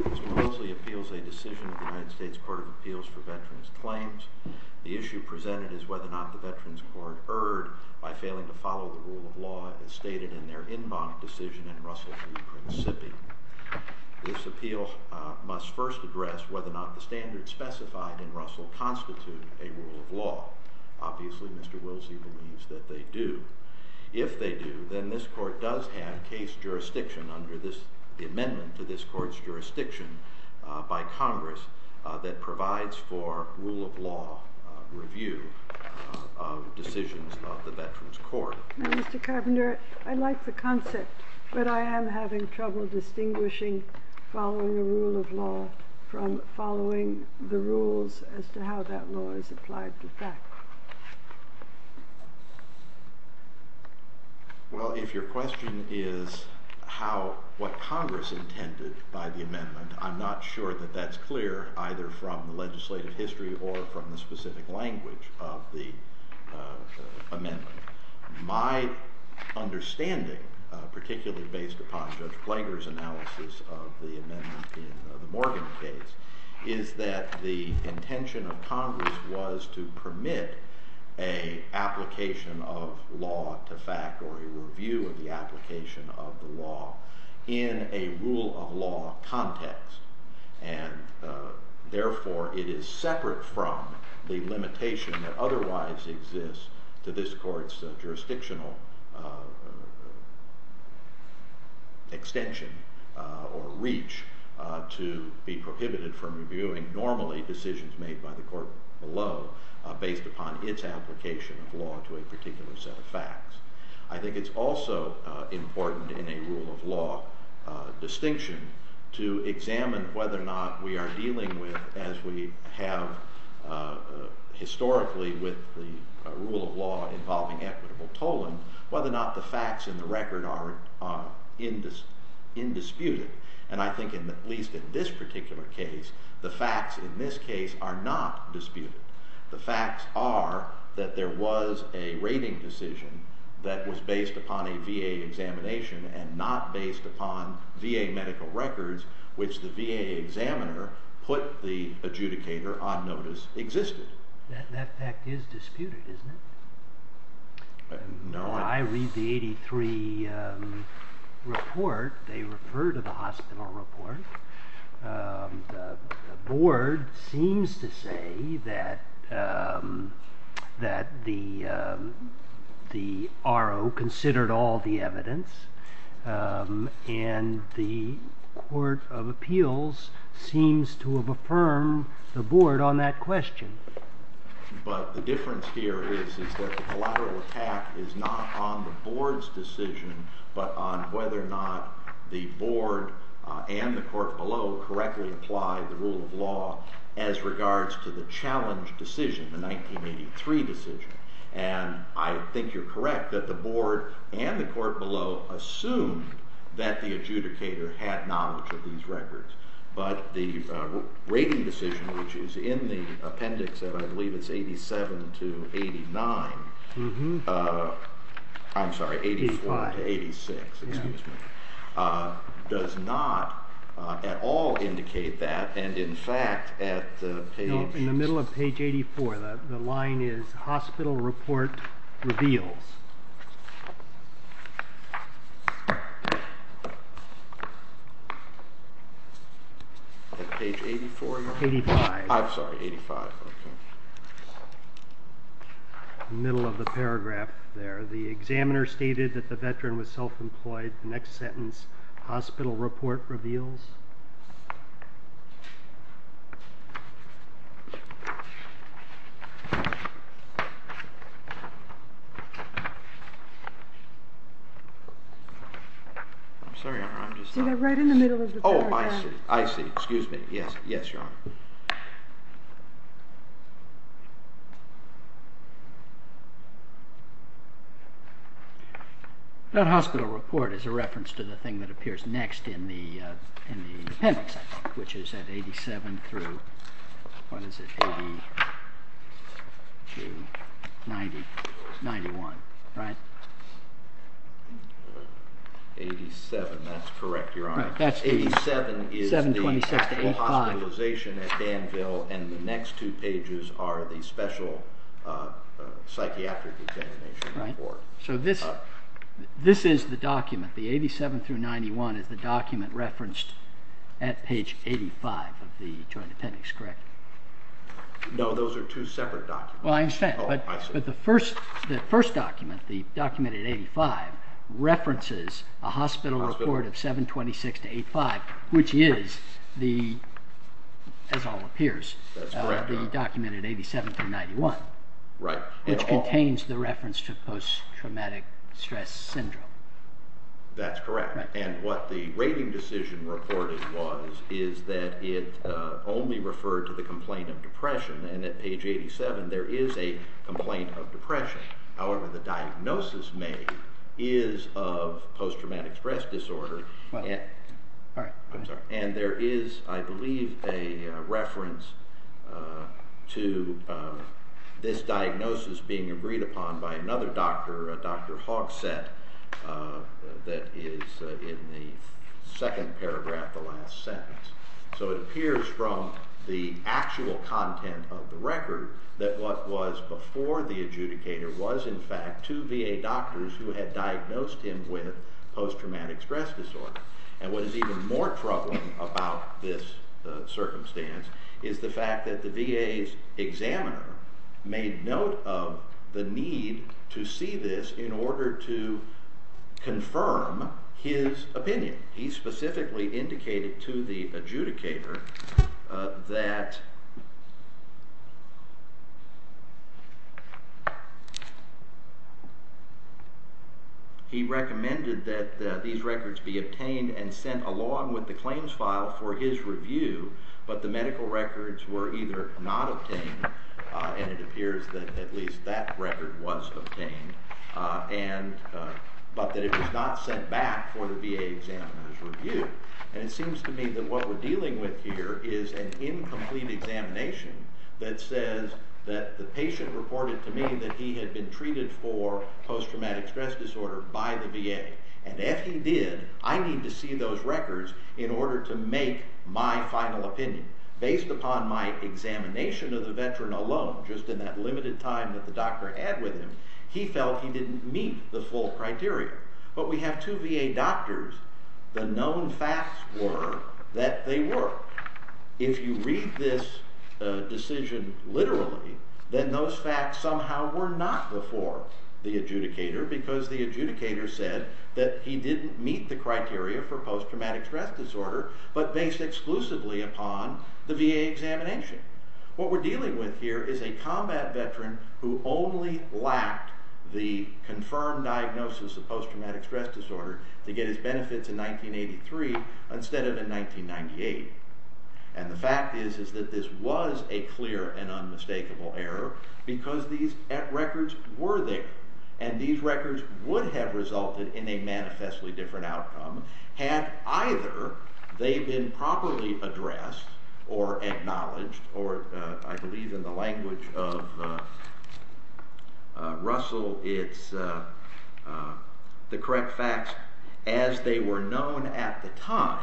William Wilsley Appeals a Decision of the U.S. Court of Appeals for Veterans Claims The issue presented is whether or not the Veterans Court erred by failing to follow the rule of law as stated in their en banc decision in Russell v. Prince Sippey. This appeal must first address whether or not the standards specified in Russell constitute a rule of law. Obviously Mr. Wilsey believes that they do. If they do, then this Court does have case jurisdiction under the amendment to this Court's jurisdiction by Congress that provides for rule of law review of decisions of the Veterans Court. Now Mr. Carpenter, I like the concept, but I am having trouble distinguishing following a rule of law from following the rules as to how that law is applied to fact. Well, if your question is what Congress intended by the amendment, I'm not sure that that's clear either from the legislative history or from the specific language of the amendment. My understanding, particularly based upon Judge Blager's analysis of the amendment in the Morgan case, is that the intention of Congress was to permit an application of law to fact or a review of the application of the law in a rule of law context. And therefore it is separate from the limitation that otherwise exists to this Court's jurisdictional extension or reach to be prohibited from reviewing normally decisions made by the Court below based upon its application of law to a particular set of facts. I think it's also important in a rule of law distinction to examine whether or not we are dealing with, as we have historically with the rule of law involving equitable tolling, whether or not the facts in the record are indisputed. And I think, at least in this particular case, the facts in this case are not disputed. The facts are that there was a rating decision that was based upon a VA examination and not based upon VA medical records, which the VA examiner put the adjudicator on notice existed. That fact is disputed, isn't it? No. I read the 83 report. They refer to the hospital report. The board seems to say that the RO considered all the evidence. And the Court of Appeals seems to have affirmed the board on that question. But the difference here is that the collateral attack is not on the board's decision, but on whether or not the board and the court below correctly applied the rule of law as regards to the challenge decision, the 1983 decision. And I think you're correct that the board and the court below assumed that the adjudicator had knowledge of these records. But the rating decision, which is in the appendix of I believe it's 87 to 89—I'm sorry, 84 to 86, excuse me—does not at all indicate that. And, in fact, at page— In the middle of page 84, the line is hospital report reveals. Page 84? 85. I'm sorry, 85. Middle of the paragraph there, the examiner stated that the veteran was self-employed. The next sentence, hospital report reveals. I'm sorry, I'm just— See, they're right in the middle of the paragraph. Oh, I see, I see, excuse me, yes, yes, Your Honor. That hospital report is a reference to the thing that appears next in the appendix, I think, which is at 87 through, what is it, 80 to 90, 91, right? 87, that's correct, Your Honor. 87 is the hospitalization at Danville, and the next two pages are the special psychiatric examination report. So this is the document, the 87 through 91 is the document referenced at page 85 of the joint appendix, correct? No, those are two separate documents. Well, I understand, but the first document, the document at 85, references a hospital report of 726 to 85, which is, as all appears, the document at 87 through 91. Right. Which contains the reference to post-traumatic stress syndrome. That's correct. And what the rating decision reported was is that it only referred to the complaint of depression, and at page 87 there is a complaint of depression. However, the diagnosis made is of post-traumatic stress disorder. I'm sorry. And there is, I believe, a reference to this diagnosis being agreed upon by another doctor, Dr. Hogset, that is in the second paragraph, the last sentence. So it appears from the actual content of the record that what was before the adjudicator was, in fact, two VA doctors who had diagnosed him with post-traumatic stress disorder. And what is even more troubling about this circumstance is the fact that the VA's examiner made note of the need to see this in order to confirm his opinion. He specifically indicated to the adjudicator that he recommended that these records be obtained and sent along with the claims file for his review, but the medical records were either not obtained, and it appears that at least that record was obtained, but that it was not sent back for the VA examiner's review. And it seems to me that what we're dealing with here is an incomplete examination that says that the patient reported to me that he had been treated for post-traumatic stress disorder by the VA, and if he did, I need to see those records in order to make my final opinion. Based upon my examination of the veteran alone, just in that limited time that the doctor had with him, he felt he didn't meet the full criteria. But we have two VA doctors. The known facts were that they were. If you read this decision literally, then those facts somehow were not before the adjudicator, because the adjudicator said that he didn't meet the criteria for post-traumatic stress disorder, but based exclusively upon the VA examination. What we're dealing with here is a combat veteran who only lacked the confirmed diagnosis of post-traumatic stress disorder to get his benefits in 1983 instead of in 1998. And the fact is that this was a clear and unmistakable error, because these records were there, and these records would have resulted in a manifestly different outcome had either they been properly addressed or acknowledged, or I believe in the language of Russell, the correct facts as they were known at the time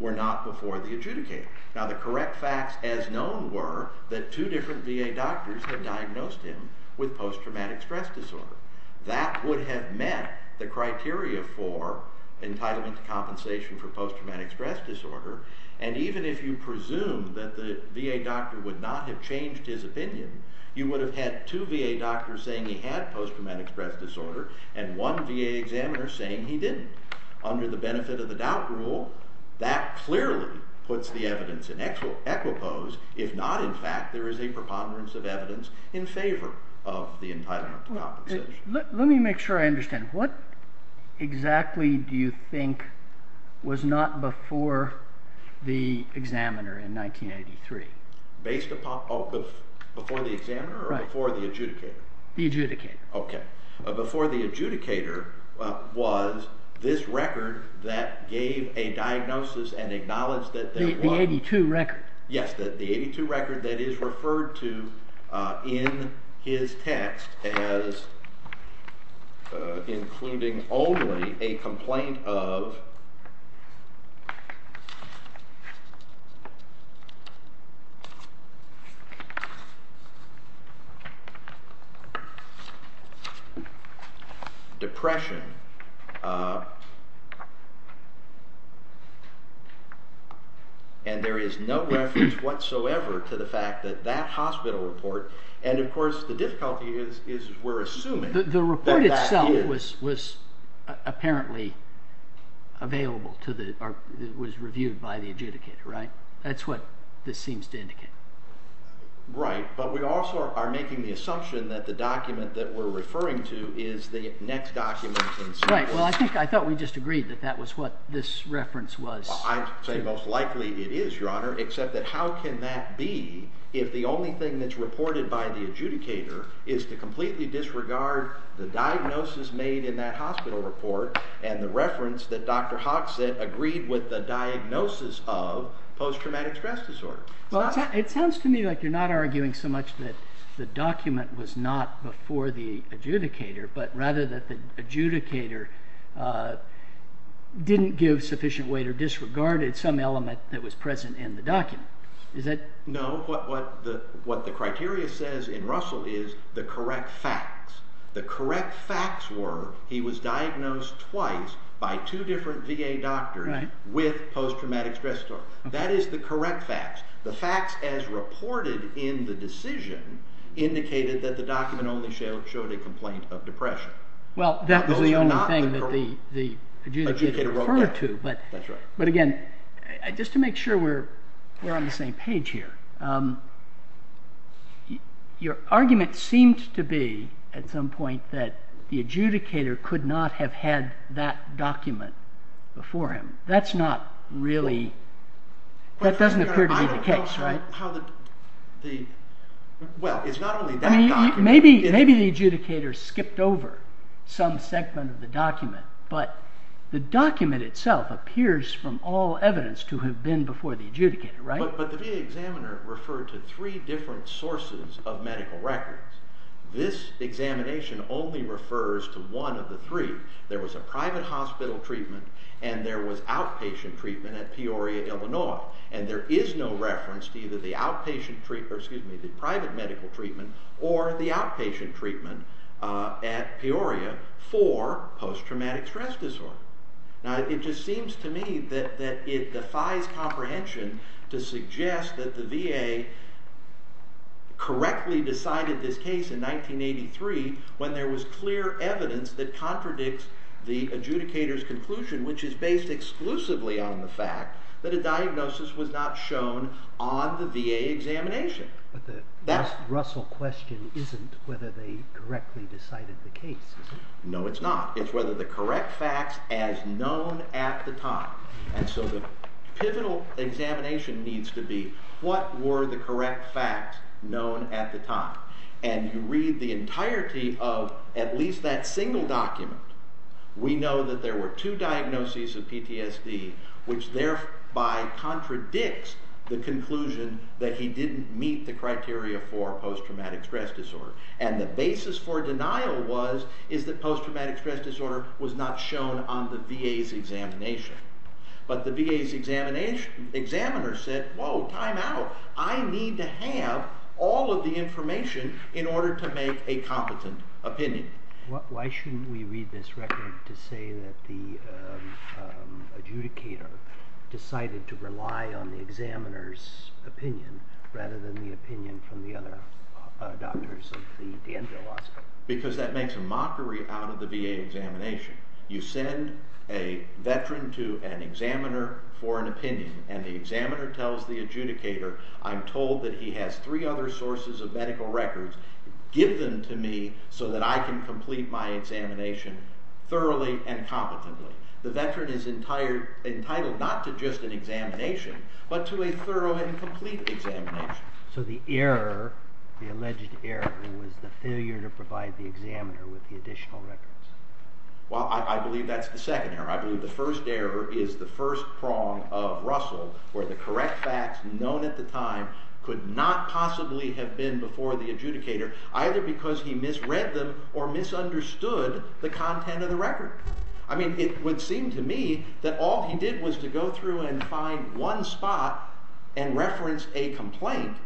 were not before the adjudicator. Now the correct facts as known were that two different VA doctors had diagnosed him with post-traumatic stress disorder. That would have met the criteria for entitlement to compensation for post-traumatic stress disorder, and even if you presumed that the VA doctor would not have changed his opinion, you would have had two VA doctors saying he had post-traumatic stress disorder and one VA examiner saying he didn't. Under the benefit of the doubt rule, that clearly puts the evidence in equipoise. If not, in fact, there is a preponderance of evidence in favor of the entitlement to compensation. Let me make sure I understand. What exactly do you think was not before the examiner in 1983? Before the examiner or before the adjudicator? The adjudicator. Okay. Before the adjudicator was this record that gave a diagnosis and acknowledged that there was... The 82 record. ...depression, and there is no reference whatsoever to the fact that that hospital report, and of course the difficulty is we're assuming that that is... The report itself was apparently available to the, or was reviewed by the adjudicator, right? That's what this seems to indicate. Right. But we also are making the assumption that the document that we're referring to is the next document in sequence. Right. Well, I think I thought we just agreed that that was what this reference was. Well, I'd say most likely it is, Your Honor, except that how can that be if the only thing that's reported by the adjudicator is to completely disregard the diagnosis made in that hospital report and the reference that Dr. Hoxett agreed with the diagnosis of post-traumatic stress disorder? Well, it sounds to me like you're not arguing so much that the document was not before the adjudicator, but rather that the adjudicator didn't give sufficient weight or disregarded some element that was present in the document. Is that...? No. What the criteria says in Russell is the correct facts. The correct facts were he was diagnosed twice by two different VA doctors with post-traumatic stress disorder. That is the correct facts. The facts as reported in the decision indicated that the document only showed a complaint of depression. Well, that was the only thing that the adjudicator referred to. That's right. But again, just to make sure we're on the same page here, your argument seemed to be at some point that the adjudicator could not have had that document before him. That's not really... that doesn't appear to be the case, right? Well, it's not only that document... Maybe the adjudicator skipped over some segment of the document, but the document itself appears from all evidence to have been before the adjudicator, right? But the VA examiner referred to three different sources of medical records. This examination only refers to one of the three. There was a private hospital treatment, and there was outpatient treatment at Peoria, Illinois. And there is no reference to either the private medical treatment or the outpatient treatment at Peoria for post-traumatic stress disorder. Now, it just seems to me that it defies comprehension to suggest that the VA correctly decided this case in 1983 when there was clear evidence that contradicts the adjudicator's conclusion, which is based exclusively on the fact that a diagnosis was not shown on the VA examination. But the Russell question isn't whether they correctly decided the case, is it? No, it's not. It's whether the correct facts as known at the time. And so the pivotal examination needs to be, what were the correct facts known at the time? And you read the entirety of at least that single document. We know that there were two diagnoses of PTSD, which thereby contradicts the conclusion that he didn't meet the criteria for post-traumatic stress disorder. And the basis for denial was that post-traumatic stress disorder was not shown on the VA's examination. But the VA's examiner said, whoa, time out. I need to have all of the information in order to make a competent opinion. Why shouldn't we read this record to say that the adjudicator decided to rely on the examiner's opinion rather than the opinion from the other doctors of the endoscope? Because that makes a mockery out of the VA examination. You send a veteran to an examiner for an opinion, and the examiner tells the adjudicator, I'm told that he has three other sources of medical records. Give them to me so that I can complete my examination thoroughly and competently. The veteran is entitled not to just an examination, but to a thorough and complete examination. So the error, the alleged error, was the failure to provide the examiner with the additional records. Well, I believe that's the second error. I believe the first error is the first prong of Russell, where the correct facts known at the time could not possibly have been before the adjudicator, either because he misread them or misunderstood the content of the record. I mean, it would seem to me that all he did was to go through and find one spot and reference a complaint,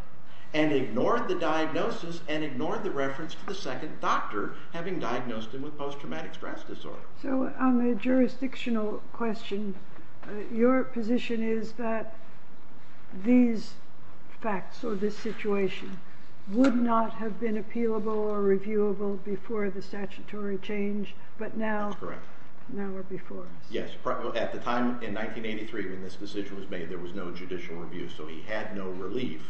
and ignored the diagnosis and ignored the reference to the second doctor having diagnosed him with post-traumatic stress disorder. So on the jurisdictional question, your position is that these facts or this situation would not have been appealable or reviewable before the statutory change, but now they're before us. Yes. At the time in 1983 when this decision was made, there was no judicial review, so he had no relief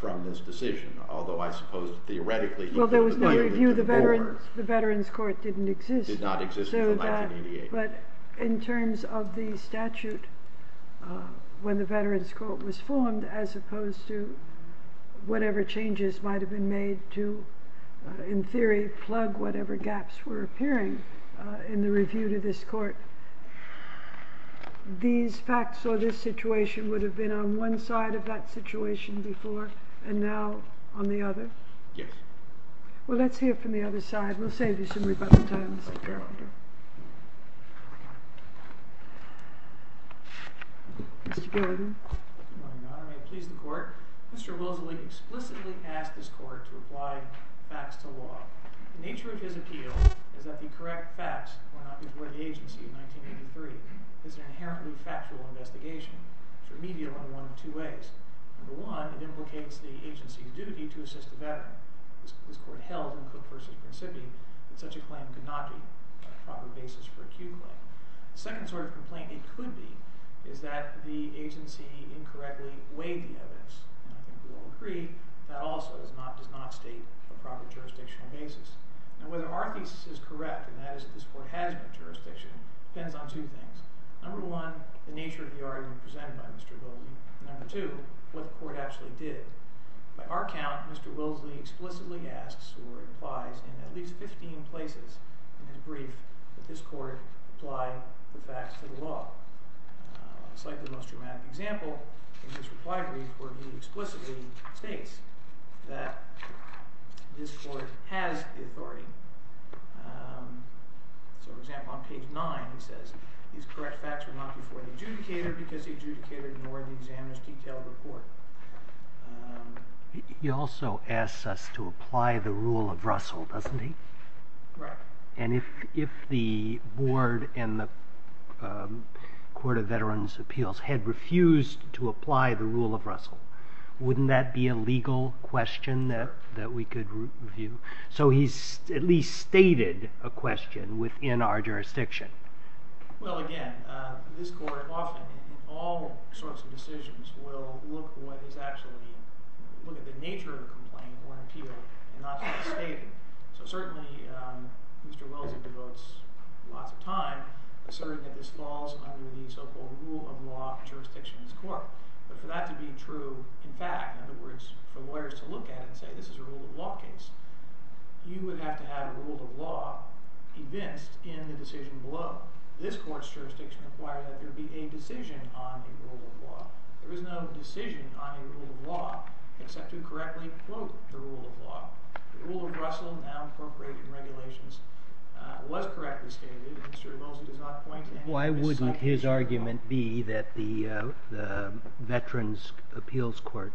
from this decision, although I suppose theoretically he could have applied it to the board. Well, there was no review. The Veterans Court didn't exist. It did not exist until 1988. But in terms of the statute, when the Veterans Court was formed, as opposed to whatever changes might have been made to, in theory, plug whatever gaps were appearing in the review to this court, these facts or this situation would have been on one side of that situation before and now on the other? Yes. Well, let's hear from the other side. We'll save you some rebuttal time, Mr. Carpenter. Mr. Gordon. Good morning, Your Honor. May it please the Court? Mr. Wilsilie explicitly asked this court to apply facts to law. The nature of his appeal is that the correct facts were not before the agency in 1983. It's an inherently factual investigation. It's remedial in one of two ways. Number one, it implicates the agency's duty to assist the veteran. This court held in Cook v. Principi that such a claim could not be. The second sort of complaint it could be is that the agency incorrectly weighed the evidence. I think we all agree that also does not state a proper jurisdictional basis. Whether our thesis is correct, and that is that this court has jurisdiction, depends on two things. Number one, the nature of the argument presented by Mr. Wilsilie. Number two, what the court actually did. By our count, Mr. Wilsilie explicitly asks or applies in at least 15 places in his brief that this court apply the facts to the law. A slightly less dramatic example in his reply brief where he explicitly states that this court has the authority. So, for example, on page 9 he says, These correct facts were not before the adjudicator because the adjudicator ignored the examiner's detailed report. He also asks us to apply the rule of Russell, doesn't he? Right. And if the board and the Court of Veterans' Appeals had refused to apply the rule of Russell, wouldn't that be a legal question that we could review? So he's at least stated a question within our jurisdiction. Well, again, this court often, in all sorts of decisions, will look at the nature of a complaint or an appeal and not just state it. So certainly Mr. Wilsilie devotes lots of time asserting that this falls under the so-called rule of law jurisdiction of this court. But for that to be true, in fact, in other words, for lawyers to look at it and say this is a rule of law case, you would have to have a rule of law evinced in the decision below. This court's jurisdiction requires that there be a decision on a rule of law. There is no decision on a rule of law except to correctly quote the rule of law. The rule of Russell, now appropriate in regulations, was correctly stated. Why wouldn't his argument be that the Veterans' Appeals Court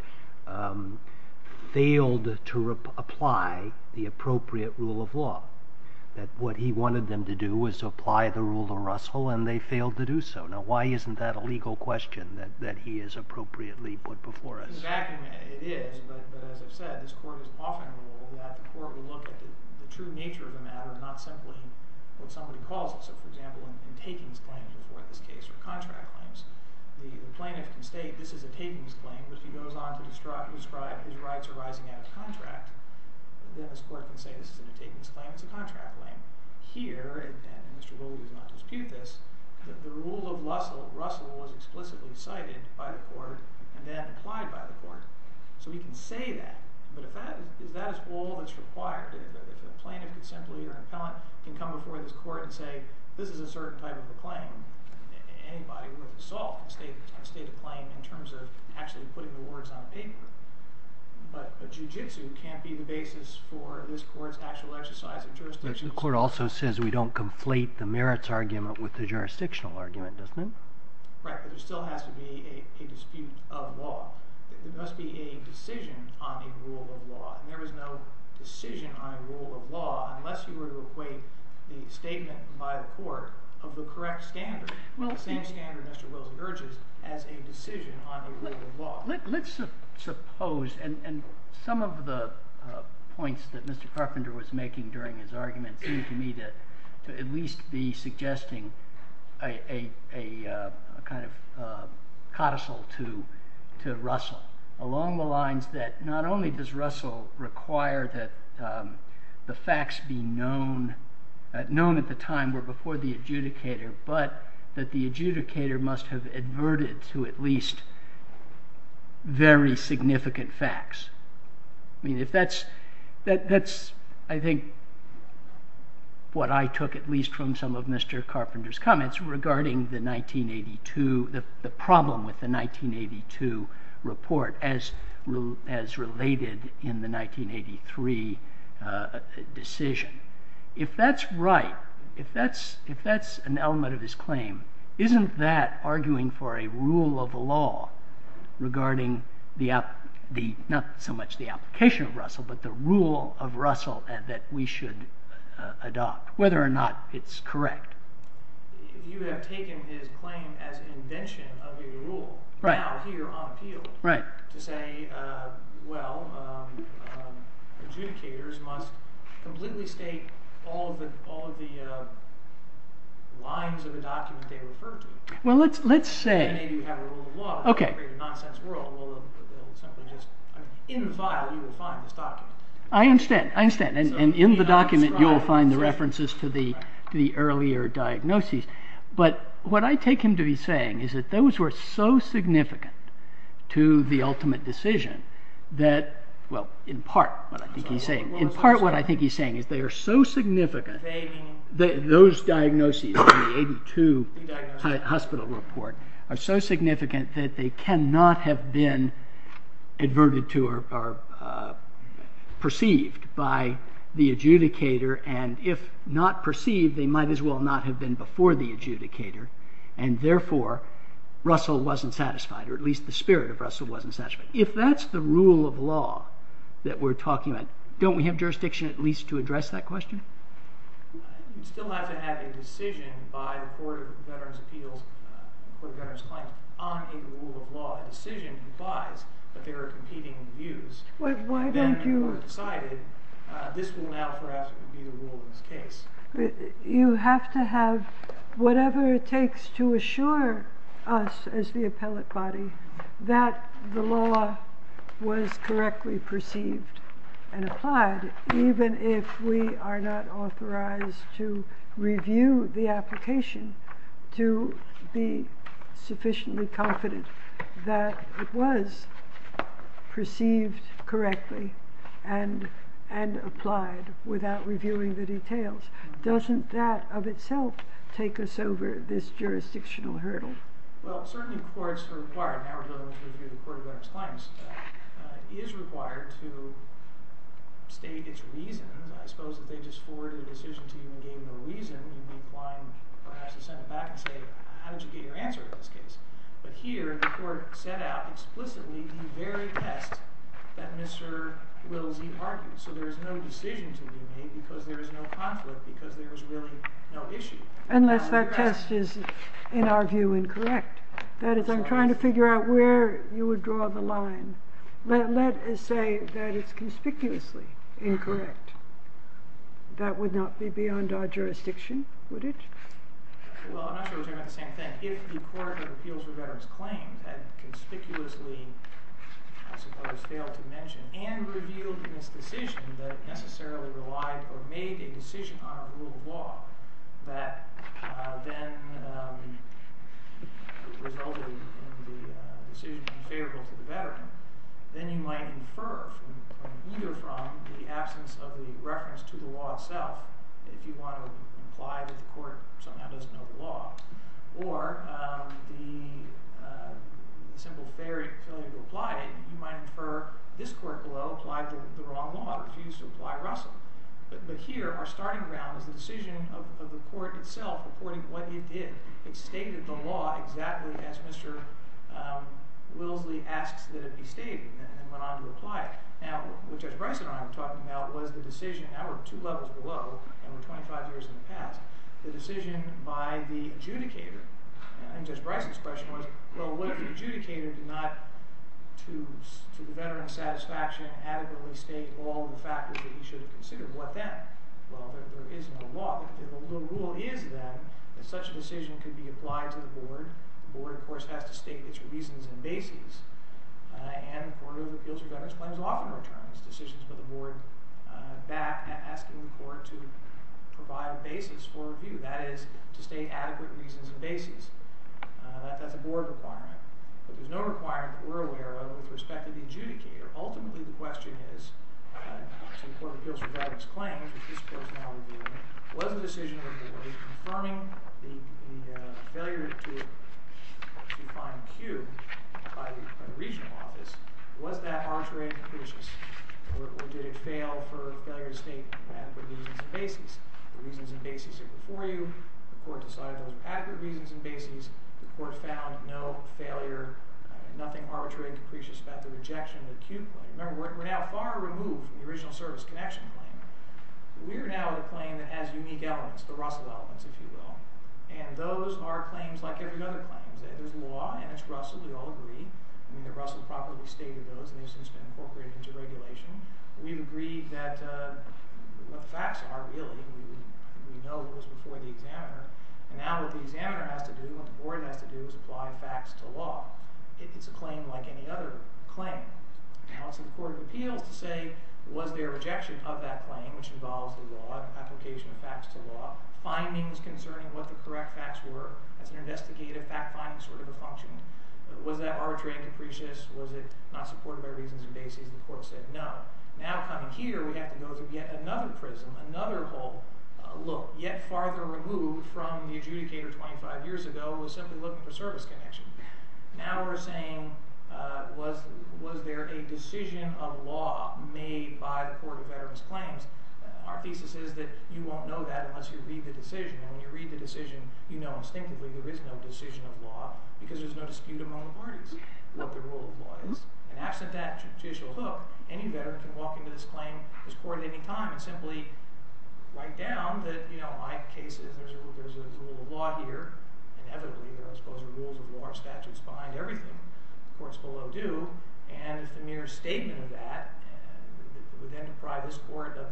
failed to apply the appropriate rule of law, that what he wanted them to do was apply the rule of Russell and they failed to do so? Now why isn't that a legal question that he has appropriately put before us? In fact, it is. But as I've said, this court has often ruled that the court will look at the true nature of the matter, not simply what somebody calls it. So, for example, in takings claims before this case or contract claims, the plaintiff can state this is a takings claim, but if he goes on to describe his rights arising out of contract, then this court can say this isn't a takings claim, it's a contract claim. Here, and Mr. Wilsilie does not dispute this, the rule of Russell was explicitly cited by the court and then applied by the court. So he can say that, but is that all that's required? If a plaintiff can simply, or an appellant, can come before this court and say, this is a certain type of a claim, anybody with assault can state a claim in terms of actually putting the words on paper. But a jujitsu can't be the basis for this court's actual exercise of jurisdiction. The court also says we don't conflate the merits argument with the jurisdictional argument, doesn't it? Right, but there still has to be a dispute of the law. There must be a decision on a rule of law, and there is no decision on a rule of law unless you were to equate the statement by the court of the correct standard, the same standard Mr. Wilsilie urges, as a decision on a rule of law. Let's suppose, and some of the points that Mr. Carpenter was making during his argument seemed to me to at least be suggesting a kind of codicil to Russell, along the lines that not only does Russell require that the facts be known at the time before the adjudicator, but that the adjudicator must have adverted to at least very significant facts. That's, I think, what I took at least from some of Mr. Carpenter's comments regarding the problem with the 1982 report as related in the 1983 decision. If that's right, if that's an element of his claim, isn't that arguing for a rule of law regarding not so much the application of Russell, but the rule of Russell that we should adopt, whether or not it's correct? You have taken his claim as invention of a rule, now here on appeal, to say, well, adjudicators must completely state all of the lines of the document they refer to. And maybe we have a rule of law that would create a nonsense world. In the file you will find this document. I understand, and in the document you will find the references to the earlier diagnoses. But what I take him to be saying is that those were so significant to the ultimate decision that, well, in part what I think he's saying is they are so significant, those diagnoses in the 1982 hospital report are so significant that they cannot have been adverted to or perceived by the adjudicator, and if not perceived, they might as well not have been before the adjudicator, and therefore Russell wasn't satisfied, or at least the spirit of Russell wasn't satisfied. If that's the rule of law that we're talking about, don't we have jurisdiction at least to address that question? You still have to have a decision by the Court of Veterans' Appeals, the Court of Veterans' Claims, on a rule of law. A decision implies that there are competing views. Why don't you... You have to have whatever it takes to assure us as the appellate body that the law was correctly perceived and applied, even if we are not authorized to review the application to be sufficiently confident that it was perceived correctly and applied without reviewing the details. Doesn't that of itself take us over this jurisdictional hurdle? Well, certainly courts are required. Now we're going to review the Court of Veterans' Claims. It is required to state its reasons. I suppose if they just forwarded a decision to you and gave you a reason, you'd be applying perhaps to send it back and say, how did you get your answer in this case? But here the Court set out explicitly the very test that Mr. Willesee argued. So there is no decision to be made because there is no conflict, because there is really no issue. Unless that test is, in our view, incorrect. That is, I'm trying to figure out where you would draw the line. Let us say that it's conspicuously incorrect. That would not be beyond our jurisdiction, would it? Well, I'm not sure we're talking about the same thing. But if the Court of Appeals for Veterans' Claims had conspicuously, I suppose failed to mention, and revealed in this decision that it necessarily relied or made a decision on a rule of law that then resulted in the decision being favorable to the veteran, then you might infer either from the absence of the reference to the law itself, if you want to imply that the court somehow doesn't know the law, or the simple failure to apply it, you might infer this court below applied the wrong law, refused to apply Russell. But here our starting ground is the decision of the court itself reporting what it did. It stated the law exactly as Mr. Willesee asks that it be stated and went on to apply it. Now, what Judge Bryson and I were talking about was the decision, now we're two levels below and we're 25 years in the past, the decision by the adjudicator, and Judge Bryson's question was, well, what if the adjudicator did not, to the veteran's satisfaction, adequately state all of the factors that he should have considered? What then? Well, there is no law. But if the rule is then that such a decision could be applied to the board, the board, of course, has to state its reasons and basis. And the Court of Appeals for Veterans' Claims often returns decisions for the board back asking the court to provide a basis for review. That is, to state adequate reasons and basis. That's a board requirement. But there's no requirement that we're aware of with respect to the adjudicator. Ultimately, the question is, to the Court of Appeals for Veterans' Claims, which this court is now reviewing, was the decision of the board confirming the failure to find Q by the regional office, was that arbitrary and capricious? Or did it fail for failure to state adequate reasons and basis? The reasons and basis are before you. The court decided those were adequate reasons and basis. The court found no failure, nothing arbitrary and capricious about the rejection of the Q claim. Remember, we're now far removed from the original service connection claim. We are now with a claim that has unique elements, the Russell elements, if you will. And those are claims like every other claim. There's law, and it's Russell. We all agree. I mean that Russell properly stated those, and they've since been incorporated into regulation. We've agreed that what the facts are, really. We know it was before the examiner. And now what the examiner has to do and what the board has to do is apply facts to law. It's a claim like any other claim. Now it's up to the Court of Appeals to say, was there a rejection of that claim, which involves the law and application of facts to law, findings concerning what the correct facts were. That's an investigative fact-finding sort of a function. Was that arbitrary and capricious? Was it not supported by reasons and basis? The court said no. Now coming here, we have to go to yet another prism, another hole. Look, yet farther removed from the adjudicator 25 years ago was simply looking for service connection. Now we're saying, was there a decision of law made by the Court of Veterans Claims? Our thesis is that you won't know that unless you read the decision. And when you read the decision, you know instinctively there is no decision of law because there's no dispute among the parties what the rule of law is. And absent that judicial hook, any veteran can walk into this claim, this court at any time, and simply write down that, you know, my case is there's a rule of law here. Inevitably, I suppose the rules of law are statutes behind everything. The court's below due. And if the mere statement of that would then deprive this court of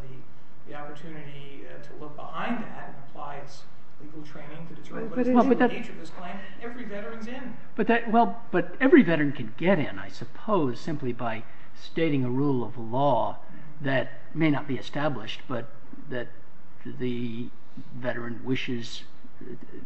the opportunity to look behind that and apply its legal training to determine what is the true nature of this claim, every veteran's in. But every veteran can get in, I suppose, simply by stating a rule of law that may not be established but that the veteran wishes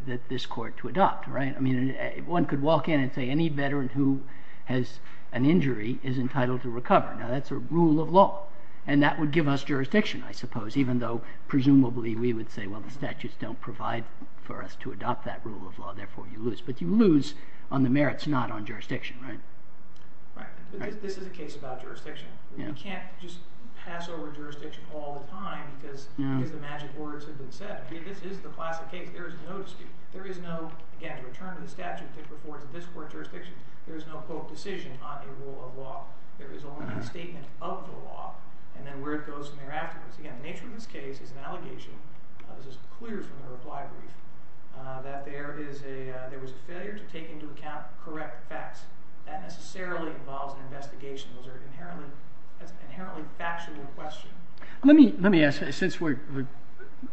that this court to adopt, right? I mean, one could walk in and say any veteran who has an injury is entitled to recover. Now, that's a rule of law. And that would give us jurisdiction, I suppose, even though presumably we would say, well, the statutes don't provide for us to adopt that rule of law. Therefore, you lose. But you lose on the merits, not on jurisdiction, right? This is a case about jurisdiction. You can't just pass over jurisdiction all the time because the magic words have been said. This is the classic case. There is no dispute. The nature of the statute that affords this court jurisdiction, there is no, quote, decision on a rule of law. There is only a statement of the law and then where it goes from there afterwards. Again, the nature of this case is an allegation. This is clear from the reply brief that there was a failure to take into account correct facts. That necessarily involves an investigation. Those are inherently factual questions. Let me ask, since we've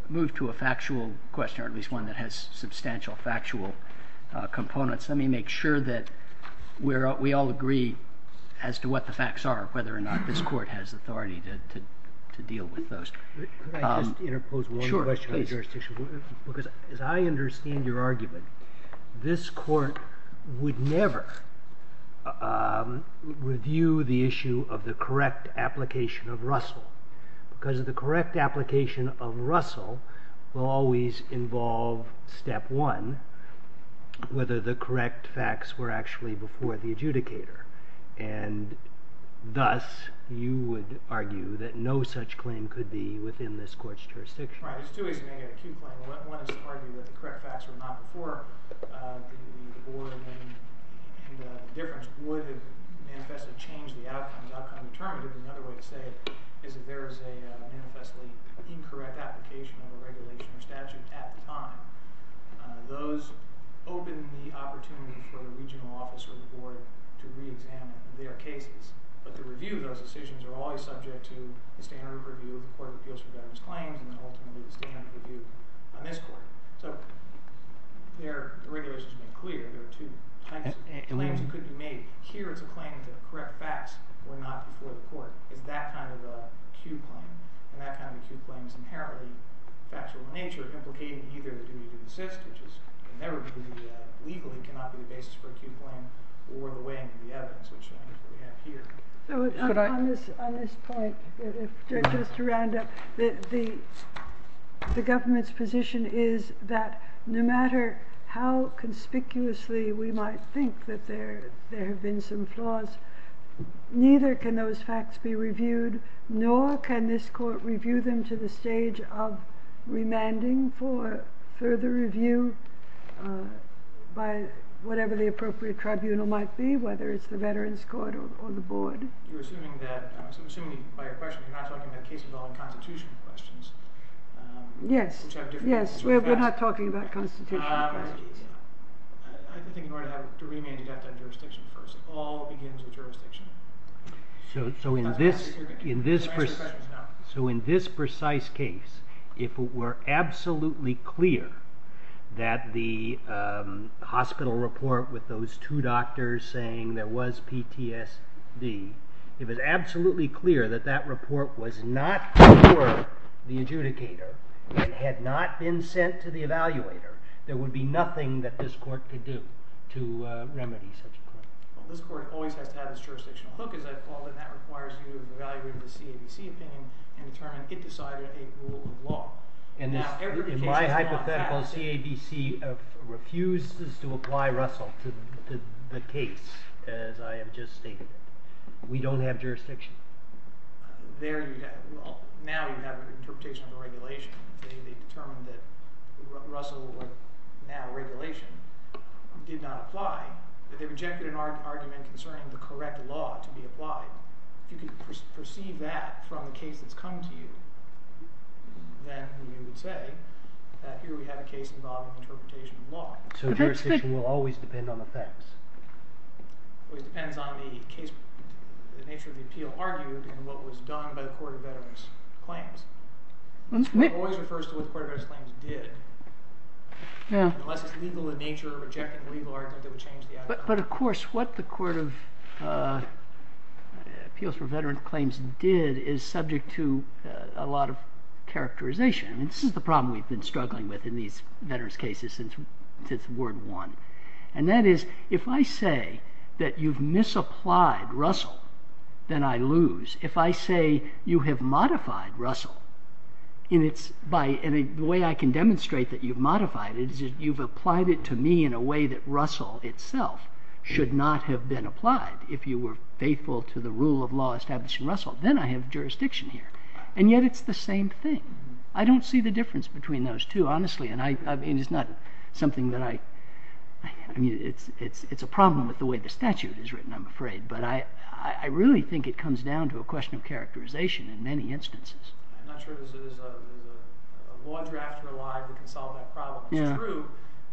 moved to a factual question, or at least one that has substantial factual components, let me make sure that we all agree as to what the facts are, whether or not this court has authority to deal with those. Could I just interpose one question on jurisdiction? Sure, please. Because as I understand your argument, this court would never review the issue of the correct application of Russell because the correct application of Russell will always involve step one, whether the correct facts were actually before the adjudicator. And thus, you would argue that no such claim could be within this court's jurisdiction. There's two ways to make an acute claim. One is to argue that the correct facts were not before the board, and the difference would have manifestly changed the outcome. The outcome determined it. Another way to say it is that there is a manifestly incorrect application of a regulation or statute at the time. Those open the opportunity for the regional office or the board to reexamine their cases. But the review of those decisions are always subject to the standard review of the Court of Appeals for Veterans Claims and ultimately the standard review on this court. So the regulations are made clear. There are two types of claims that could be made. Here it's a claim to correct facts were not before the court. It's that kind of acute claim. And that kind of acute claim is inherently factual in nature, implicating either the duty to insist, which is never legally cannot be the basis for acute claim, or the weighing of the evidence, which is what we have here. On this point, just to round up, the government's position is that no matter how conspicuously we might think that there have been some flaws, neither can those facts be reviewed, nor can this court review them to the stage of remanding for further review by whatever the appropriate tribunal might be, whether it's the Veterans Court or the board. I'm assuming by your question you're not talking about cases involving constitutional questions. Yes, we're not talking about constitutional questions. I think in order to remand you have to have jurisdiction first. All begins with jurisdiction. So in this precise case, if it were absolutely clear that the hospital report with those two doctors saying there was PTSD, if it was absolutely clear that that report was not before the adjudicator and had not been sent to the evaluator, there would be nothing that this court could do to remedy such a claim. Well, this court always has to have its jurisdictional hook, as I've called it. And that requires you to evaluate the CABC opinion and determine it decided a rule of law. In my hypothetical, CABC refuses to apply Russell to the case, as I have just stated. We don't have jurisdiction. Now you have an interpretation of the regulation. They determined that Russell would now have regulation. It did not apply, but they rejected an argument concerning the correct law to be applied. If you could perceive that from the case that's come to you, then you would say that here we have a case involving interpretation of law. So jurisdiction will always depend on the facts? It depends on the nature of the appeal argued and what was done by the Court of Veterans Claims. It always refers to what the Court of Veterans Claims did. Unless it's legal in nature, rejecting a legal argument that would change the outcome. But, of course, what the Court of Appeals for Veterans Claims did is subject to a lot of characterization. This is the problem we've been struggling with in these veterans cases since Ward 1. And that is, if I say that you've misapplied Russell, then I lose. If I say you have modified Russell, and the way I can demonstrate that you've modified it is that you've applied it to me in a way that Russell itself should not have been applied if you were faithful to the rule of law establishing Russell. Then I have jurisdiction here. And yet it's the same thing. I don't see the difference between those two, honestly. And it's not something that I... I mean, it's a problem with the way the statute is written, I'm afraid. But I really think it comes down to a question of characterization in many instances. I'm not sure there's a law drafter alive who can solve that problem. It's true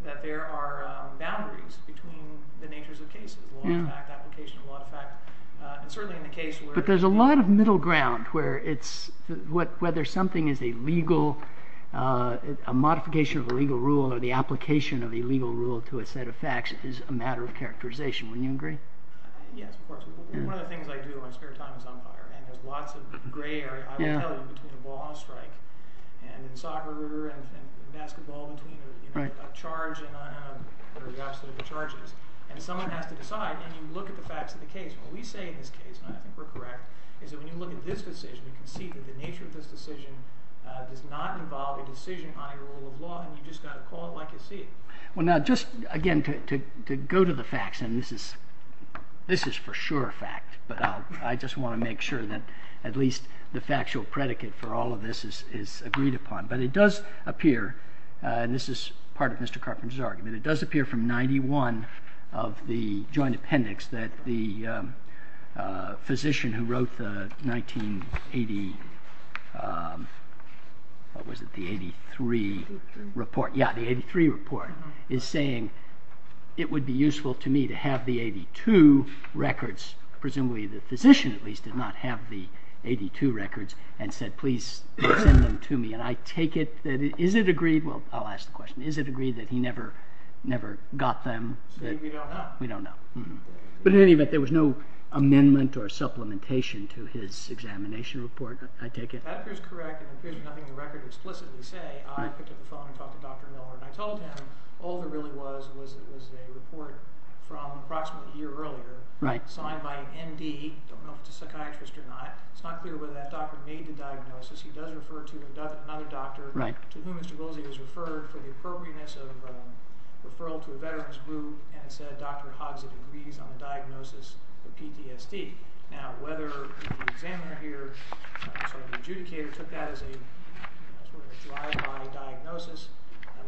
that there are boundaries between the natures of cases, law of fact, application of law of fact. And certainly in the case where... But there's a lot of middle ground where it's... whether something is a modification of a legal rule or the application of a legal rule to a set of facts is a matter of characterization. Wouldn't you agree? Yes, of course. One of the things I do in my spare time is on fire. And there's lots of gray area, I will tell you, between a ball on a strike and in soccer and basketball between a charge and the opposite of the charges. And someone has to decide, and you look at the facts of the case. What we say in this case, and I think we're correct, is that when you look at this decision, you can see that the nature of this decision does not involve a decision on a rule of law, and you've just got to call it like you see it. Well, now, just again to go to the facts, and this is for sure a fact, but I just want to make sure that at least the factual predicate for all of this is agreed upon. But it does appear, and this is part of Mr. Carpenter's argument, it does appear from 91 of the joint appendix that the physician who wrote the 1983 report is saying, it would be useful to me to have the 82 records. Presumably the physician, at least, did not have the 82 records and said, please send them to me. And I take it, is it agreed? Well, I'll ask the question. Is it agreed that he never got them? We don't know. We don't know. But in any event, there was no amendment or supplementation to his examination report, I take it? That is correct. It appears nothing in the record explicitly say. I picked up the phone and talked to Dr. Miller, and I told him all there really was was a report from approximately a year earlier, signed by an M.D. I don't know if it's a psychiatrist or not. It's not clear whether that doctor made the diagnosis. He does refer to another doctor to whom Mr. Goolsey was referred for the appropriateness of referral to a veterans group, and said Dr. Hoggs agrees on the diagnosis of PTSD. Now, whether the examiner here, sorry, the adjudicator, took that as a sort of drive-by diagnosis,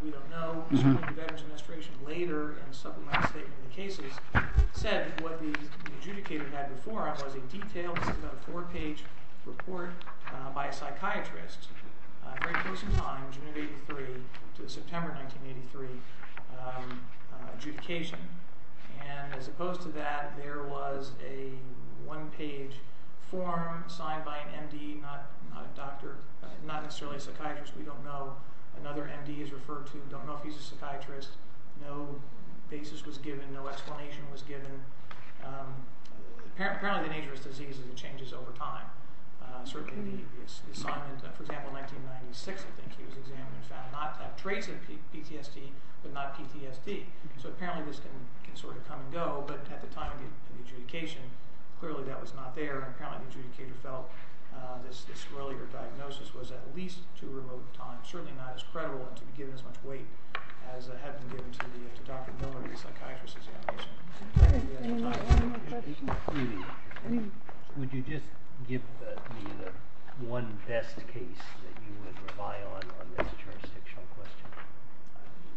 we don't know. Certainly the Veterans Administration later in supplementing the statement in the cases said what the adjudicator had before him was a detailed, this is about a four-page report by a psychiatrist, very close in time, June of 83 to September of 1983, adjudication. And as opposed to that, there was a one-page form signed by an M.D., not necessarily a psychiatrist, we don't know, another M.D. is referred to, don't know if he's a psychiatrist, no basis was given, no explanation was given. Apparently the nature of this disease is it changes over time. Certainly the assignment, for example, in 1996 I think he was examined and found not to have traits of PTSD, but not PTSD. So apparently this can sort of come and go, but at the time of the adjudication clearly that was not there, and apparently the adjudicator felt this earlier diagnosis was at least too remote a time, certainly not as credible and to be given as much weight as it had been given to Dr. Miller and the psychiatrist's examination. Do you have time for one more question? Would you just give me the one best case that you would rely on on this jurisdictional question?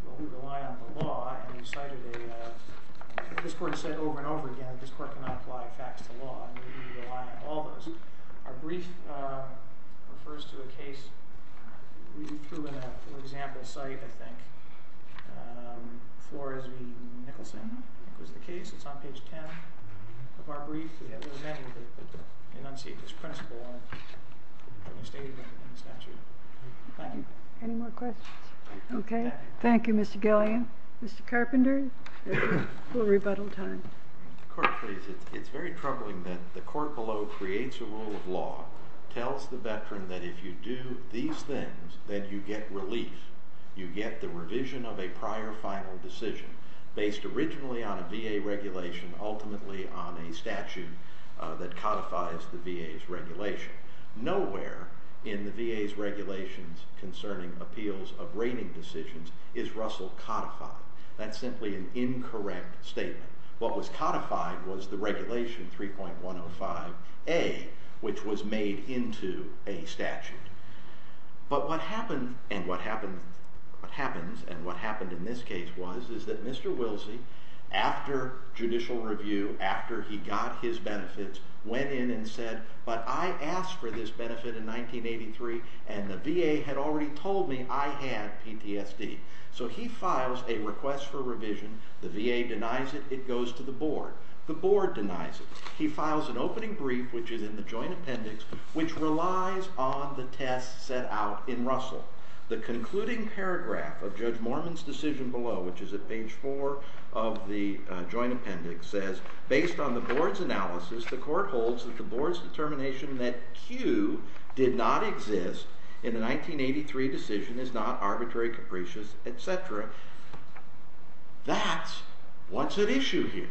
Well, we rely on the law, and you cited a, this Court has said over and over again that this Court cannot apply facts to law, and we rely on all those. Our brief refers to a case we threw in an example site, I think, Flores v. Nicholson was the case. It's on page 10 of our brief. We have a little memo that enunciates this principle in a statement in the statute. Thank you. Any more questions? Okay. Thank you, Mr. Gillian. Mr. Carpenter, we'll rebuttal time. Court, please. It's very troubling that the Court below creates a rule of law, tells the veteran that if you do these things, then you get relief. You get the revision of a prior final decision based originally on a VA regulation, ultimately on a statute that codifies the VA's regulation. Nowhere in the VA's regulations concerning appeals of rating decisions is Russell codified. That's simply an incorrect statement. What was codified was the regulation 3.105A, which was made into a statute. But what happens, and what happened in this case was, is that Mr. Wilsey, after judicial review, after he got his benefits, went in and said, but I asked for this benefit in 1983, and the VA had already told me I had PTSD. So he files a request for revision. The VA denies it. It goes to the board. The board denies it. He files an opening brief, which is in the joint appendix, which relies on the test set out in Russell. The concluding paragraph of Judge Mormon's decision below, which is at page 4 of the joint appendix, says, based on the board's analysis, the Court holds that the board's determination that Q did not exist in the 1983 decision is not arbitrary, capricious, etc. That's what's at issue here.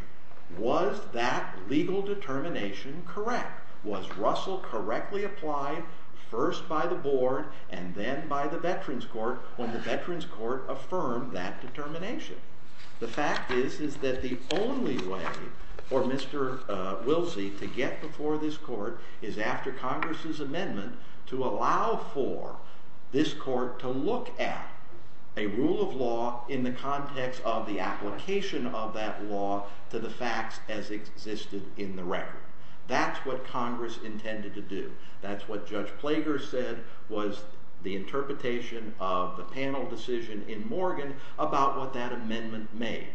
Was that legal determination correct? Was Russell correctly applied first by the board and then by the Veterans Court when the Veterans Court affirmed that determination? The fact is that the only way for Mr. Wilsey to get before this court is after Congress's amendment to allow for this court to look at a rule of law in the context of the application of that law to the facts as existed in the record. That's what Congress intended to do. That's what Judge Plager said was the interpretation of the panel decision in Morgan about what that amendment made.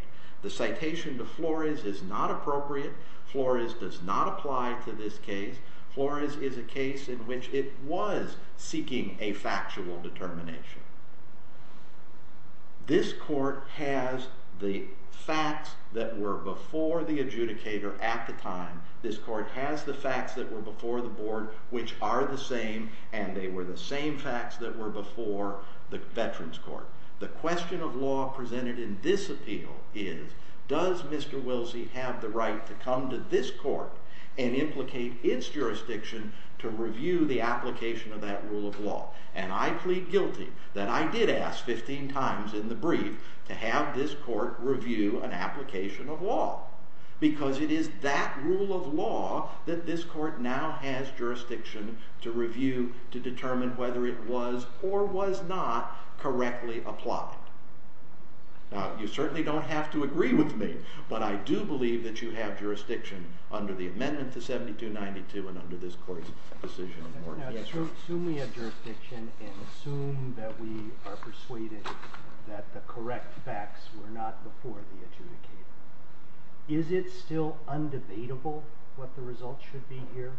The citation to Flores is not appropriate. Flores does not apply to this case. Flores is a case in which it was seeking a factual determination. This court has the facts that were before the adjudicator at the time. This court has the facts that were before the board, which are the same, and they were the same facts that were before the Veterans Court. The question of law presented in this appeal is, does Mr. Wilsey have the right to come to this court and implicate its jurisdiction to review the application of that rule of law? And I plead guilty that I did ask 15 times in the brief to have this court review an application of law because it is that rule of law that this court now has jurisdiction to review to determine whether it was or was not correctly applied. Now, you certainly don't have to agree with me, but I do believe that you have jurisdiction under the amendment to 7292 and under this court's decision in Morgan. Now, assume we have jurisdiction and assume that we are persuaded that the correct facts were not before the adjudicator. Is it still undebatable what the results should be here?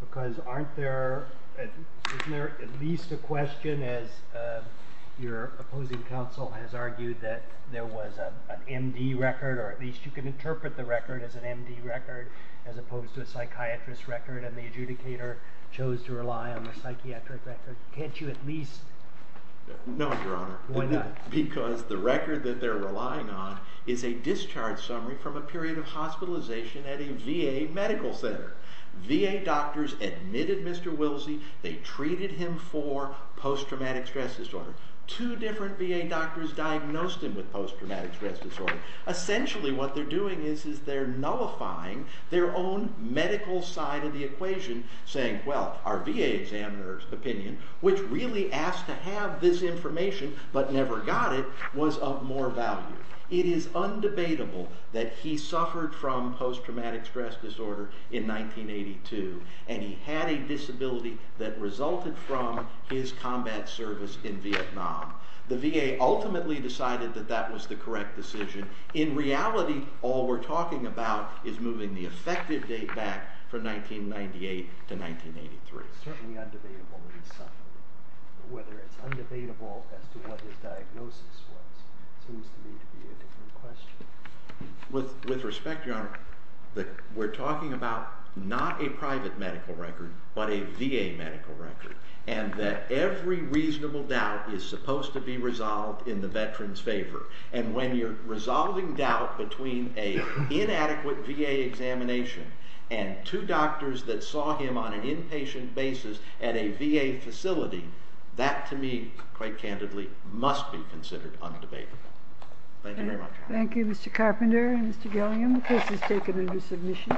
Because aren't there at least a question, as your opposing counsel has argued, that there was an MD record, or at least you can interpret the record as an MD record as opposed to a psychiatrist record, and the adjudicator chose to rely on the psychiatric record. Can't you at least... No, Your Honor. Why not? Because the record that they're relying on is a discharge summary from a period of hospitalization at a VA medical center. VA doctors admitted Mr. Wilsey. They treated him for post-traumatic stress disorder. Two different VA doctors diagnosed him with post-traumatic stress disorder. Essentially what they're doing is they're nullifying their own medical side of the equation, saying, well, our VA examiner's opinion, which really asked to have this information but never got it, was of more value. It is undebatable that he suffered from post-traumatic stress disorder in 1982, and he had a disability that resulted from his combat service in Vietnam. The VA ultimately decided that that was the correct decision. In reality, all we're talking about is moving the effective date back from 1998 to 1983. It's certainly undebatable that he suffered. Whether it's undebatable as to what his diagnosis was seems to me to be a different question. With respect, Your Honor, we're talking about not a private medical record but a VA medical record, and that every reasonable doubt is supposed to be resolved in the veteran's favor. And when you're resolving doubt between an inadequate VA examination and two doctors that saw him on an inpatient basis at a VA facility, that to me, quite candidly, must be considered undebatable. Thank you very much. Thank you, Mr. Carpenter and Mr. Gilliam. The case is taken under submission.